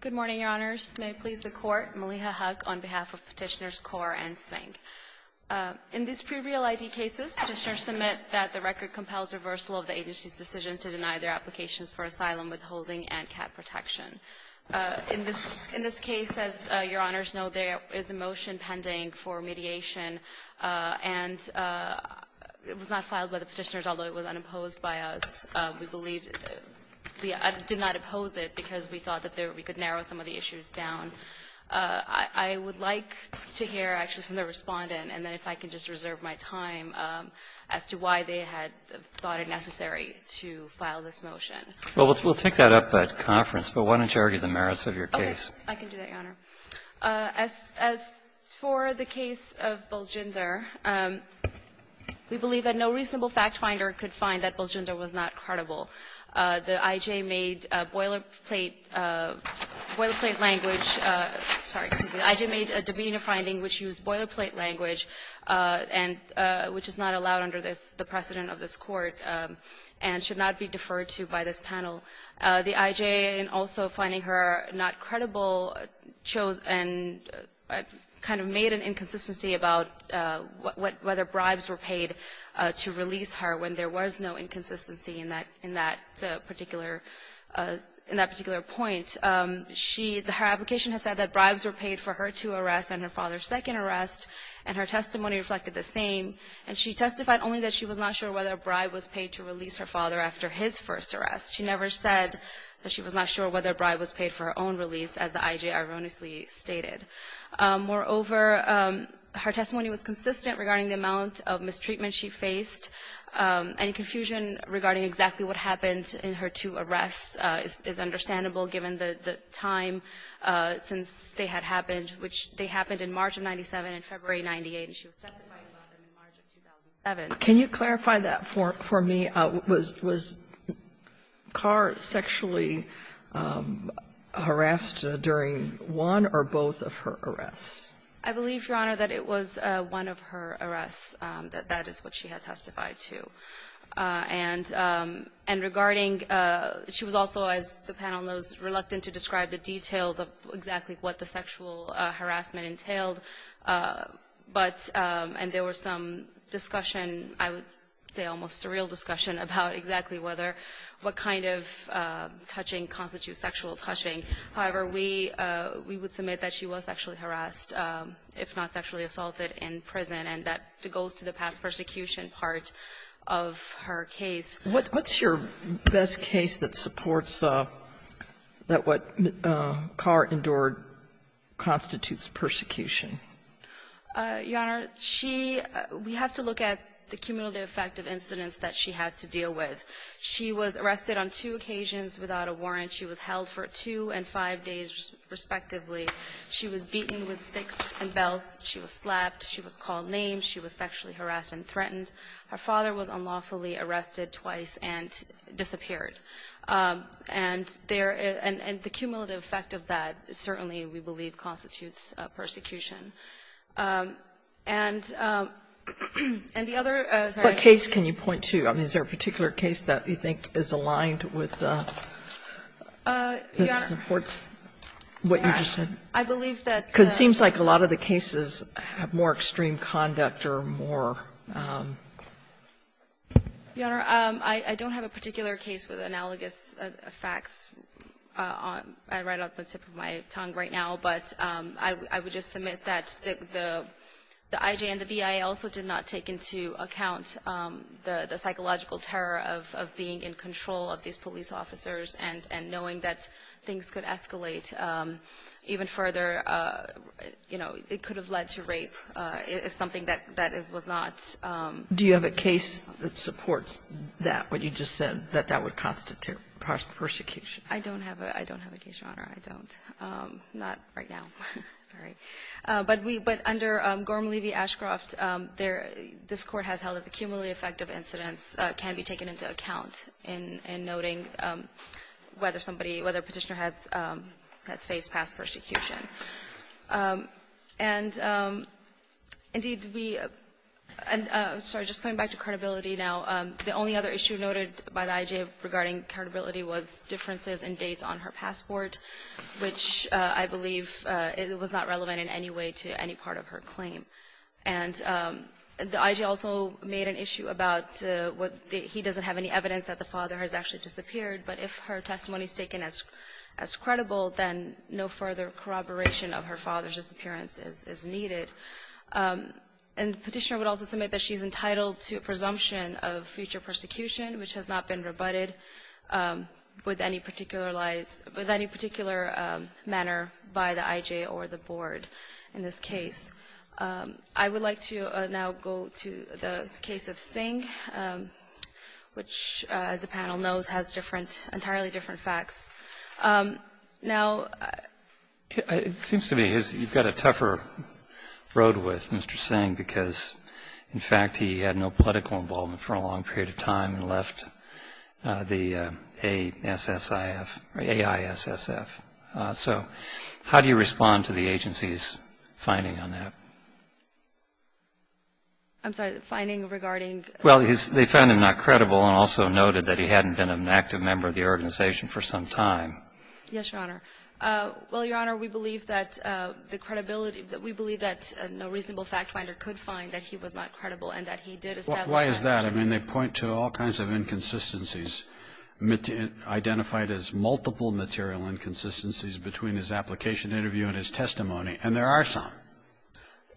Good morning, Your Honors. May it please the Court, Maliha Hugg on behalf of Petitioners Kaur and Singh. In these pre-real ID cases, petitioners submit that the record compels reversal of the agency's decision to deny their applications for asylum withholding and CAT protection. In this case, as Your Honors know, there is a motion pending for mediation, and it was not filed by the petitioners, although it was unopposed by us. We believe the — I did not oppose it because we thought that we could narrow some of the issues down. I would like to hear actually from the Respondent, and then if I could just reserve my time as to why they had thought it necessary to file this motion. Well, we'll take that up at conference, but why don't you argue the merits of your case? I can do that, Your Honor. As for the case of Baljinder, we believe that no reasonable fact-finder could find that Baljinder was not credible. The I.J. made boilerplate language — sorry, excuse me. The I.J. made a divina finding which used boilerplate language and which is not allowed under this — the precedent of this Court and should not be deferred to by this panel. The I.J. in also finding her not credible chose and kind of made an inconsistency about whether bribes were paid to release her when there was no inconsistency in that particular — in that particular point. She — her application has said that bribes were paid for her two arrests and her father's second arrest, and her testimony reflected the same. And she testified only that she was not sure whether a bribe was paid to release her father after his first arrest. She never said that she was not sure whether a bribe was paid for her own release, as the I.J. erroneously stated. Moreover, her testimony was consistent regarding the amount of mistreatment she faced. Any confusion regarding exactly what happened in her two arrests is understandable given the time since they had happened, which they happened in March of 97 and February of 98, and she was testifying about them in March of 2007. Sotomayor, can you clarify that for me? Was Carr sexually harassed during one or both of her arrests? I believe, Your Honor, that it was one of her arrests, that that is what she had testified to. And regarding — she was also, as the panel knows, reluctant to describe the details of exactly what the sexual harassment entailed. But — and there was some discussion, I would say almost surreal discussion, about exactly whether — what kind of touching constitutes sexual touching. However, we — we would submit that she was sexually harassed, if not sexually assaulted, in prison, and that goes to the past persecution part of her case. What's your best case that supports that what Carr endured constitutes persecution? Your Honor, she — we have to look at the cumulative effect of incidents that she had to deal with. She was arrested on two occasions without a warrant. She was held for two and five days, respectively. She was beaten with sticks and belts. She was slapped. She was called names. She was sexually harassed and threatened. Her father was unlawfully arrested twice and disappeared. And there — and the cumulative effect of that certainly, we believe, constitutes persecution. And the other — What case can you point to? I mean, is there a particular case that you think is aligned with the — that supports what you just said? Your Honor, I believe that — Because it seems like a lot of the cases have more extreme conduct or more — Your Honor, I don't have a particular case with analogous effects. I read off the tip of my tongue right now, but I would just submit that the I.J. and the B.I. also did not take into account the psychological terror of being in control of these police officers and knowing that things could escalate even further. You know, it could have led to rape. It's something that was not — Do you have a case that supports that, what you just said, that that would constitute persecution? I don't have a — I don't have a case, Your Honor. I don't. Not right now. Sorry. But we — but under Gorman-Levy-Ashcroft, there — this Court has held that the cumulative effect of incidents can be taken into account in noting whether somebody — whether a Petitioner has — has faced past persecution. And, indeed, we — I'm sorry. Just coming back to credibility now, the only other issue noted by the I.J. regarding credibility was differences in dates on her passport, which I believe was not relevant in any way to any part of her claim. And the I.J. also made an issue about what — he doesn't have any evidence that the father has actually disappeared, but if her presumption of future persecution, which has not been rebutted with any particular lies — with any particular manner by the I.J. or the Board in this case. I would like to now go to the case of Singh, which, as the panel knows, has different — entirely different facts. Now — It seems to me you've got a tougher road with Mr. Singh because, in fact, he had no political involvement for a long period of time and left the A-S-S-I-F — or A-I-S-S-F. So how do you respond to the agency's finding on that? I'm sorry. The finding regarding — Well, they found him not credible and also noted that he hadn't been an active member of the organization for some time. Yes, Your Honor. Well, Your Honor, we believe that the credibility — we believe that no reasonable fact finder could find that he was not credible and that he did establish that fact. Well, why is that? I mean, they point to all kinds of inconsistencies identified as multiple material inconsistencies between his application interview and his testimony, and there are some.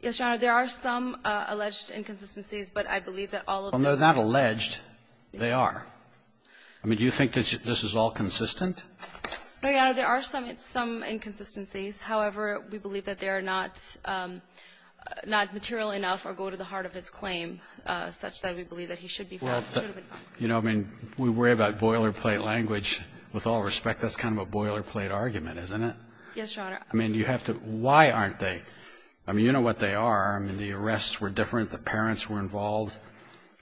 Yes, Your Honor. There are some alleged inconsistencies, but I believe that all of them — Well, they're not alleged. They are. I mean, do you think that this is all consistent? Well, Your Honor, there are some inconsistencies. However, we believe that they are not material enough or go to the heart of his claim such that we believe that he should be found. You know, I mean, we worry about boilerplate language. With all respect, that's kind of a boilerplate argument, isn't it? Yes, Your Honor. I mean, you have to — why aren't they? I mean, you know what they are. I mean, the arrests were different. The parents were involved.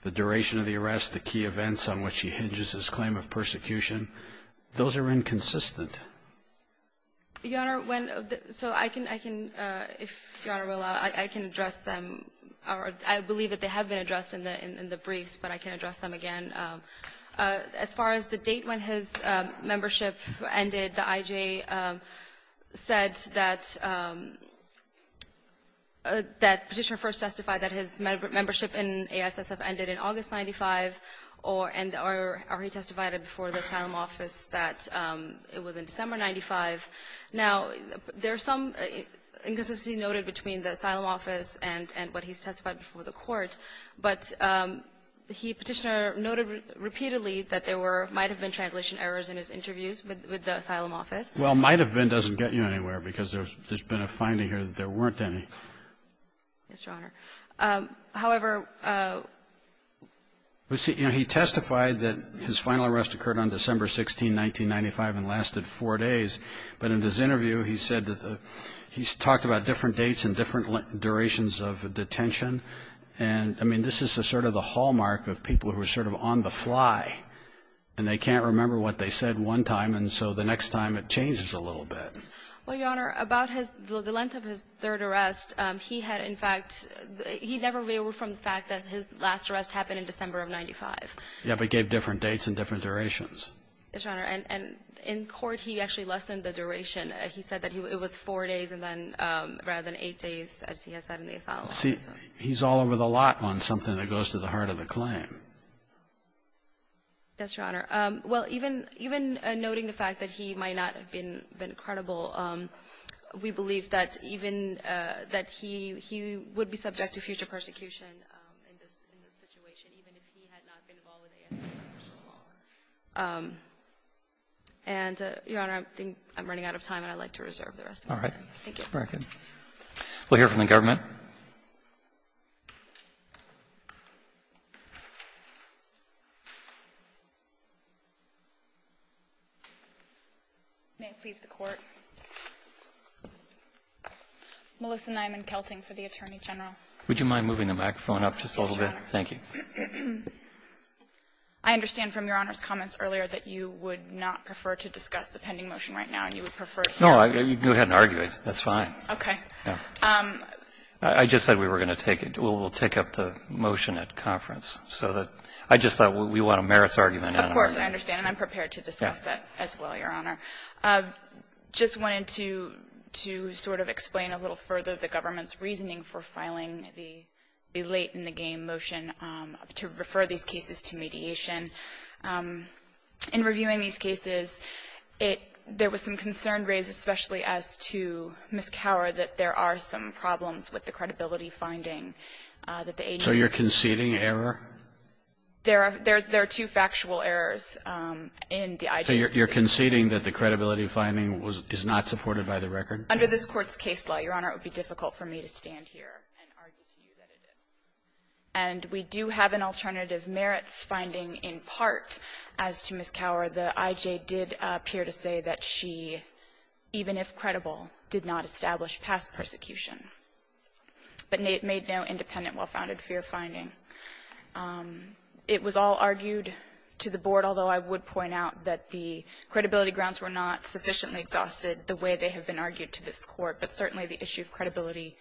The duration of the arrest, the key events on which he hinges his claim of persecution, those are inconsistent. Your Honor, when — so I can — I can — if Your Honor will allow, I can address them. I believe that they have been addressed in the briefs, but I can address them again. As far as the date when his membership ended, the I.J. said that Petitioner first testified that his membership in A.I.S.S.F. ended in August of 1995, or he testified before the Asylum Office that it was in December of 1995. Now, there's some inconsistency noted between the Asylum Office and what he's testified before the Court, but he, Petitioner, noted repeatedly that there were — might have been translation errors in his interviews with the Asylum Office. Well, might have been doesn't get you anywhere because there's been a finding Yes, Your Honor. However — Well, see, you know, he testified that his final arrest occurred on December 16, 1995, and lasted four days. But in his interview, he said that the — he's talked about different dates and different durations of detention. And, I mean, this is sort of the hallmark of people who are sort of on the fly, and they can't remember what they said one time, and so the next time it changes a little bit. Well, Your Honor, about his — the length of his third arrest, he had, in fact — he never reeled from the fact that his last arrest happened in December of 1995. Yeah, but gave different dates and different durations. Yes, Your Honor. And in court, he actually lessened the duration. He said that he — it was four days and then — rather than eight days, as he has said in the Asylum Office. See, he's all over the lot on something that goes to the heart of the claim. Yes, Your Honor. Well, even — even noting the fact that he might not have been credible, we believe that even — that he — he would be subject to future persecution in this — in this situation, even if he had not been involved in the Asylum Office for so long. And, Your Honor, I think I'm running out of time, and I'd like to reserve the rest of the time. All right. Thank you. Very good. We'll hear from the government. Okay. May it please the Court. Melissa Nyman, Kelting, for the Attorney General. Would you mind moving the microphone up just a little bit? Yes, Your Honor. Thank you. I understand from Your Honor's comments earlier that you would not prefer to discuss the pending motion right now, and you would prefer it here. No, you can go ahead and argue it. That's fine. Okay. I just said we were going to take — we'll take up the motion at conference so that — I just thought we want a merits argument. Of course, I understand, and I'm prepared to discuss that as well, Your Honor. I just wanted to — to sort of explain a little further the government's reasoning for filing the late-in-the-game motion to refer these cases to mediation. In reviewing these cases, it — there was some concern raised, especially as to Ms. Cower, that there are some problems with the credibility finding that the agency — So you're conceding error? There are — there are two factual errors in the IJ's decision. So you're conceding that the credibility finding was — is not supported by the record? Under this Court's case law, Your Honor, it would be difficult for me to stand here and argue to you that it is. And we do have an alternative merits finding in part as to Ms. Cower. The IJ did appear to say that she, even if credible, did not establish past persecution but made no independent well-founded fear finding. It was all argued to the Board, although I would point out that the credibility grounds were not sufficiently exhausted the way they have been argued to this Court. But certainly the issue of credibility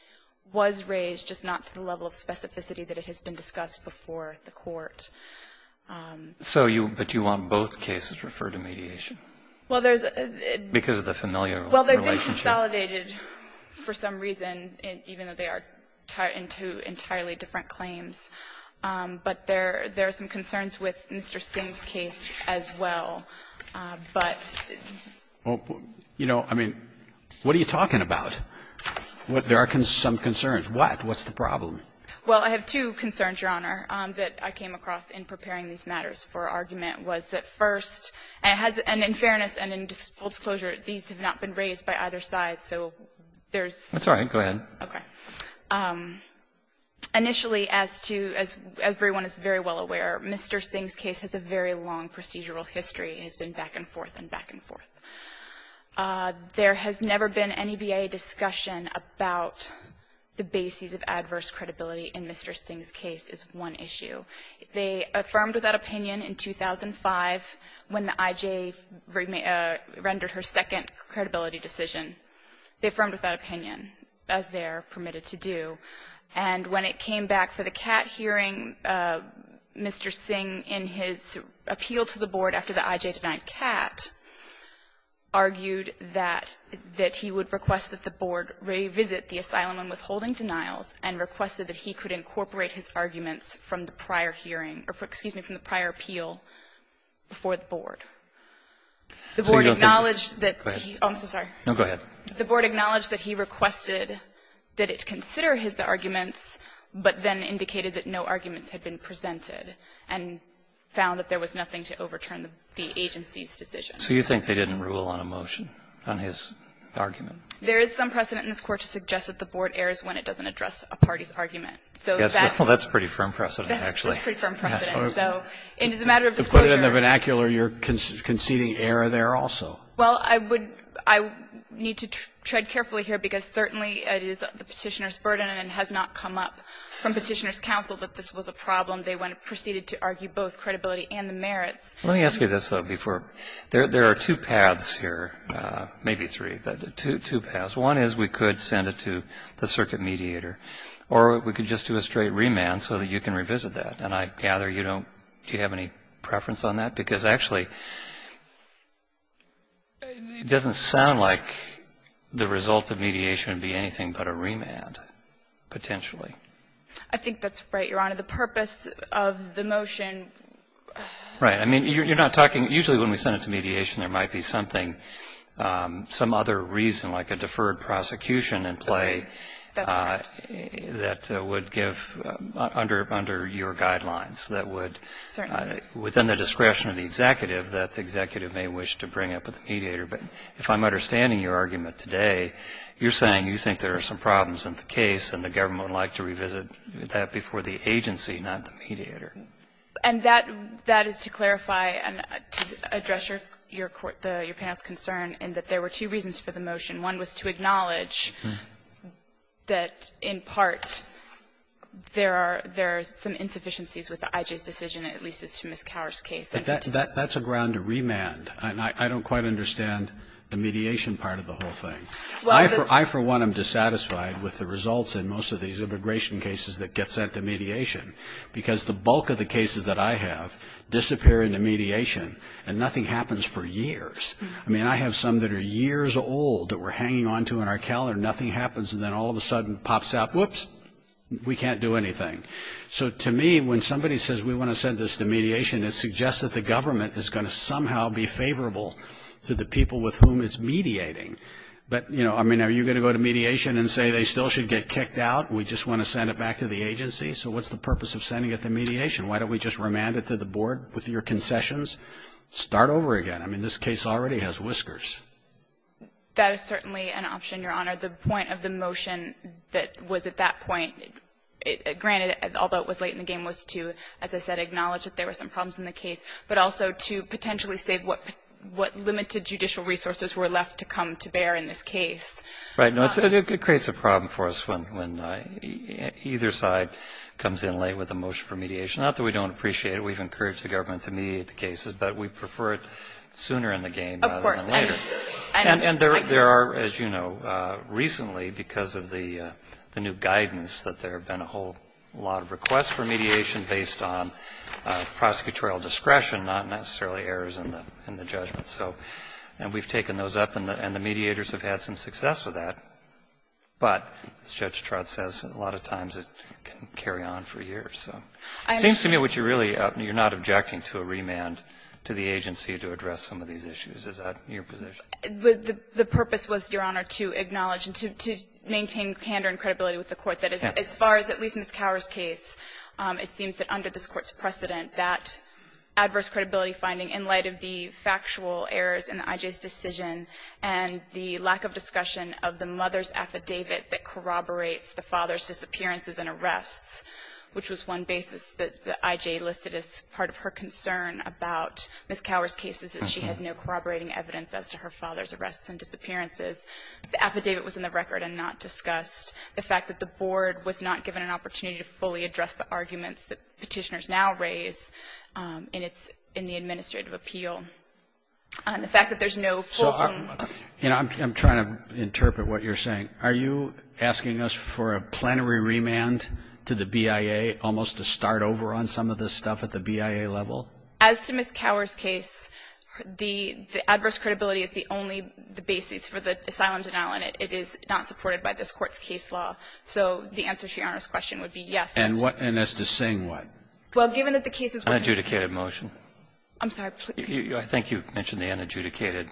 was raised, just not to the level of specificity that it has been discussed before the Court. So you — but you want both cases referred to mediation? Well, there's a — Because of the familial relationship. Well, they've been consolidated for some reason, even though they are tied into entirely different claims. But there are some concerns with Mr. Singh's case as well. But — Well, you know, I mean, what are you talking about? There are some concerns. What? What's the problem? Well, I have two concerns, Your Honor, that I came across in preparing these matters for argument was that first — and in fairness and in full disclosure, these have not been raised by either side, so there's — That's all right. Go ahead. Okay. Initially, as to — as everyone is very well aware, Mr. Singh's case has a very long procedural history. It has been back and forth and back and forth. There has never been any VA discussion about the basis of adverse credibility in Mr. Singh's case is one issue. They affirmed without opinion in 2005 when the IJ rendered her second credibility decision. They affirmed without opinion, as they are permitted to do. And when it came back for the CAT hearing, Mr. Singh, in his opinion, argued that — that he would request that the Board revisit the asylum and withholding denials and requested that he could incorporate his arguments from the prior hearing — or, excuse me, from the prior appeal before the Board. The Board acknowledged that he — Go ahead. Oh, I'm so sorry. No, go ahead. The Board acknowledged that he requested that it consider his arguments, but then on his argument. There is some precedent in this Court to suggest that the Board errs when it doesn't address a party's argument. So that's — Well, that's pretty firm precedent, actually. That's pretty firm precedent. And as a matter of disclosure — To put it in the vernacular, you're conceding error there also. Well, I would — I need to tread carefully here, because certainly it is the Petitioner's burden and has not come up from Petitioner's counsel that this was a problem. They went and proceeded to argue both credibility and the merits. Let me ask you this, though, before — there are two paths here, maybe three, but two paths. One is we could send it to the circuit mediator, or we could just do a straight remand so that you can revisit that. And I gather you don't — do you have any preference on that? Because, actually, it doesn't sound like the result of mediation would be anything but a remand, potentially. I think that's right, Your Honor. The purpose of the motion — Right. I mean, you're not talking — usually when we send it to mediation, there might be something, some other reason, like a deferred prosecution in play — That's right. — that would give, under your guidelines, that would — Certainly. — within the discretion of the executive, that the executive may wish to bring up with the mediator. But if I'm understanding your argument today, you're saying you think there are some problems in the case, and the government would like to revisit that before the agency, not the mediator. And that — that is to clarify and address your court — your panel's concern in that there were two reasons for the motion. One was to acknowledge that, in part, there are — there are some insufficiencies with the IJ's decision, at least as to Ms. Cower's case. That's a ground to remand. And I don't quite understand the mediation part of the whole thing. I, for one, am dissatisfied with the results in most of these immigration cases that get sent to mediation. Because the bulk of the cases that I have disappear into mediation, and nothing happens for years. I mean, I have some that are years old that we're hanging on to in our calendar, nothing happens, and then all of a sudden it pops out, whoops, we can't do anything. So to me, when somebody says we want to send this to mediation, it suggests that the government is going to somehow be favorable to the people with whom it's mediating. But, you know, I mean, are you going to go to mediation and say they still should get kicked out? We just want to send it back to the agency? So what's the purpose of sending it to mediation? Why don't we just remand it to the board with your concessions? Start over again. I mean, this case already has whiskers. That is certainly an option, Your Honor. The point of the motion that was at that point, granted, although it was late in the game, was to, as I said, acknowledge that there were some problems in the case, but also to potentially save what limited judicial resources were left to come to bear in this case. Right. It creates a problem for us when either side comes in late with a motion for mediation. Not that we don't appreciate it. We've encouraged the government to mediate the cases, but we prefer it sooner in the game rather than later. Of course. And there are, as you know, recently, because of the new guidance, that there have been a whole lot of requests for mediation based on prosecutorial discretion, not necessarily errors in the judgment. So we've taken those up and the mediators have had some success with that. But, as Judge Trott says, a lot of times it can carry on for years. So it seems to me what you're really up to, you're not objecting to a remand to the agency to address some of these issues. Is that your position? The purpose was, Your Honor, to acknowledge and to maintain candor and credibility with the Court. As far as at least Ms. Cower's case, it seems that under this Court's precedent that adverse credibility finding in light of the factual errors in the I.J.'s decision and the lack of discussion of the mother's affidavit that corroborates the father's disappearances and arrests, which was one basis that the I.J. listed as part of her concern about Ms. Cower's case is that she had no corroborating evidence as to her father's arrests and disappearances. The affidavit was in the record and not discussed. The fact that the Board was not given an opportunity to fully address the arguments that Petitioners now raise in the Administrative Appeal and the fact that there's no full... So I'm trying to interpret what you're saying. Are you asking us for a plenary remand to the BIA almost to start over on some of this stuff at the BIA level? As to Ms. Cower's case, the adverse credibility is the only basis for the asylum denial, and it is not supported by this Court's case law. So the answer to Your Honor's question would be yes. And as to Singh, what? Well, given that the cases were... Unadjudicated motion. I'm sorry. I think you mentioned the unadjudicated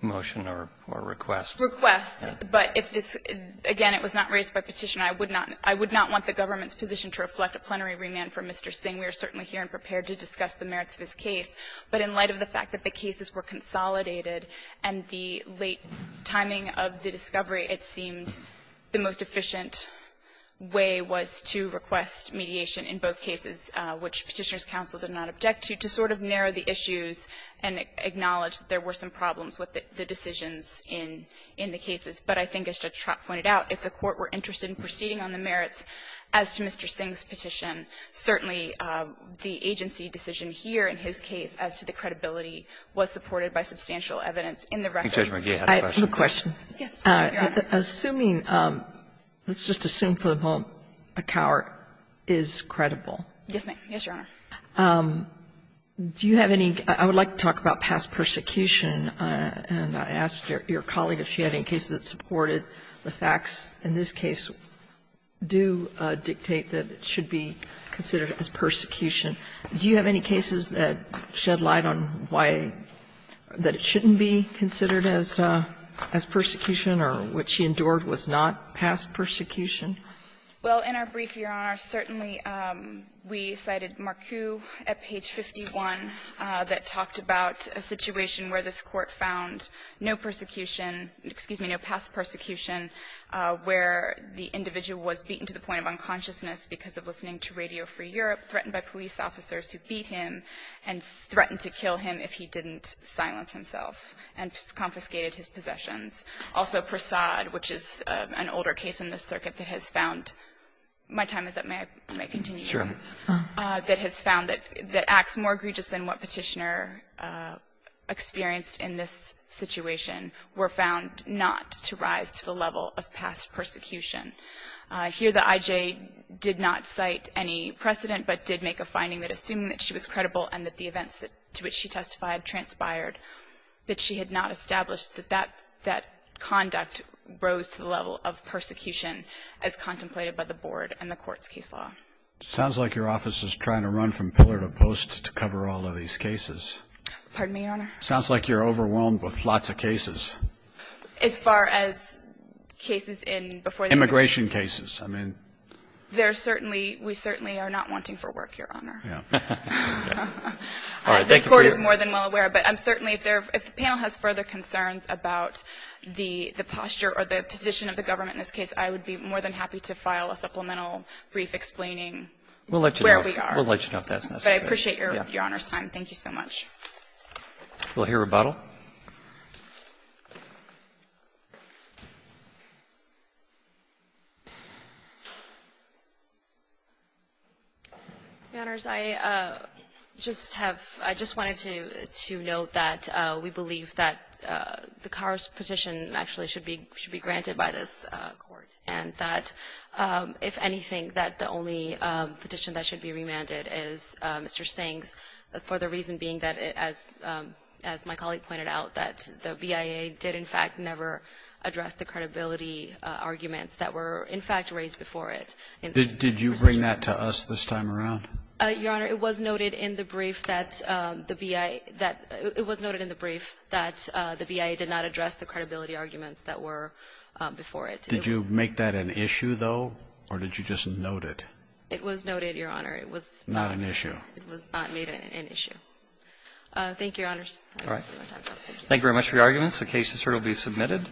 motion or request. Request. But if this, again, it was not raised by Petitioner, I would not want the government's position to reflect a plenary remand for Mr. Singh. We are certainly here and prepared to discuss the merits of his case. But in light of the fact that the cases were consolidated and the late timing of the to request mediation in both cases, which Petitioner's counsel did not object to, to sort of narrow the issues and acknowledge that there were some problems with the decisions in the cases. But I think as Judge Trott pointed out, if the Court were interested in proceeding on the merits as to Mr. Singh's petition, certainly the agency decision here in his case as to the credibility was supported by substantial evidence in the record. I think Judge McGee has a question. I have a question. Yes, Your Honor. Assuming, let's just assume for the moment, a coward is credible. Yes, ma'am. Yes, Your Honor. Do you have any – I would like to talk about past persecution, and I asked your colleague if she had any cases that supported the facts in this case do dictate that it should be considered as persecution. Do you have any cases that shed light on why that it shouldn't be considered as persecution, or what she endured was not past persecution? Well, in our brief, Your Honor, certainly we cited Marcoux at page 51 that talked about a situation where this Court found no persecution, excuse me, no past persecution where the individual was beaten to the point of unconsciousness because of listening to Radio Free Europe, threatened by police officers who beat him, and threatened to kill him if he didn't silence himself and confiscated his possessions. Also, Prasad, which is an older case in this circuit that has found – my time is up. May I continue? Sure. That has found that acts more egregious than what Petitioner experienced in this situation were found not to rise to the level of past persecution. Here the I.J. did not cite any precedent, but did make a finding that assuming that she was credible and that the events to which she testified transpired, that she had not established that that conduct rose to the level of persecution as contemplated by the Board and the Court's case law. It sounds like your office is trying to run from pillar to post to cover all of these cases. Pardon me, Your Honor? It sounds like you're overwhelmed with lots of cases. As far as cases in before the – Immigration cases. I mean – There certainly – we certainly are not wanting for work, Your Honor. Yeah. All right. Thank you for your – This Court is more than well aware. But I'm certainly – if the panel has further concerns about the posture or the position of the government in this case, I would be more than happy to file a supplemental brief explaining where we are. We'll let you know if that's necessary. I appreciate Your Honor's time. Thank you so much. We'll hear rebuttal. Thank you, Your Honor. Your Honors, I just have – I just wanted to note that we believe that the Carr's petition actually should be – should be granted by this Court, and that if anything, that the only petition that should be remanded is Mr. Singh's, for the reason being that, as my colleague pointed out, that the BIA did in fact never address the credibility arguments that were in fact raised before it. Did you bring that to us this time around? Your Honor, it was noted in the brief that the BIA – it was noted in the brief that the BIA did not address the credibility arguments that were before it. Did you make that an issue, though, or did you just note it? It was noted, Your Honor. It was not – Not an issue. It was not made an issue. Thank you, Your Honors. All right. Thank you very much for your arguments. The case is here to be submitted.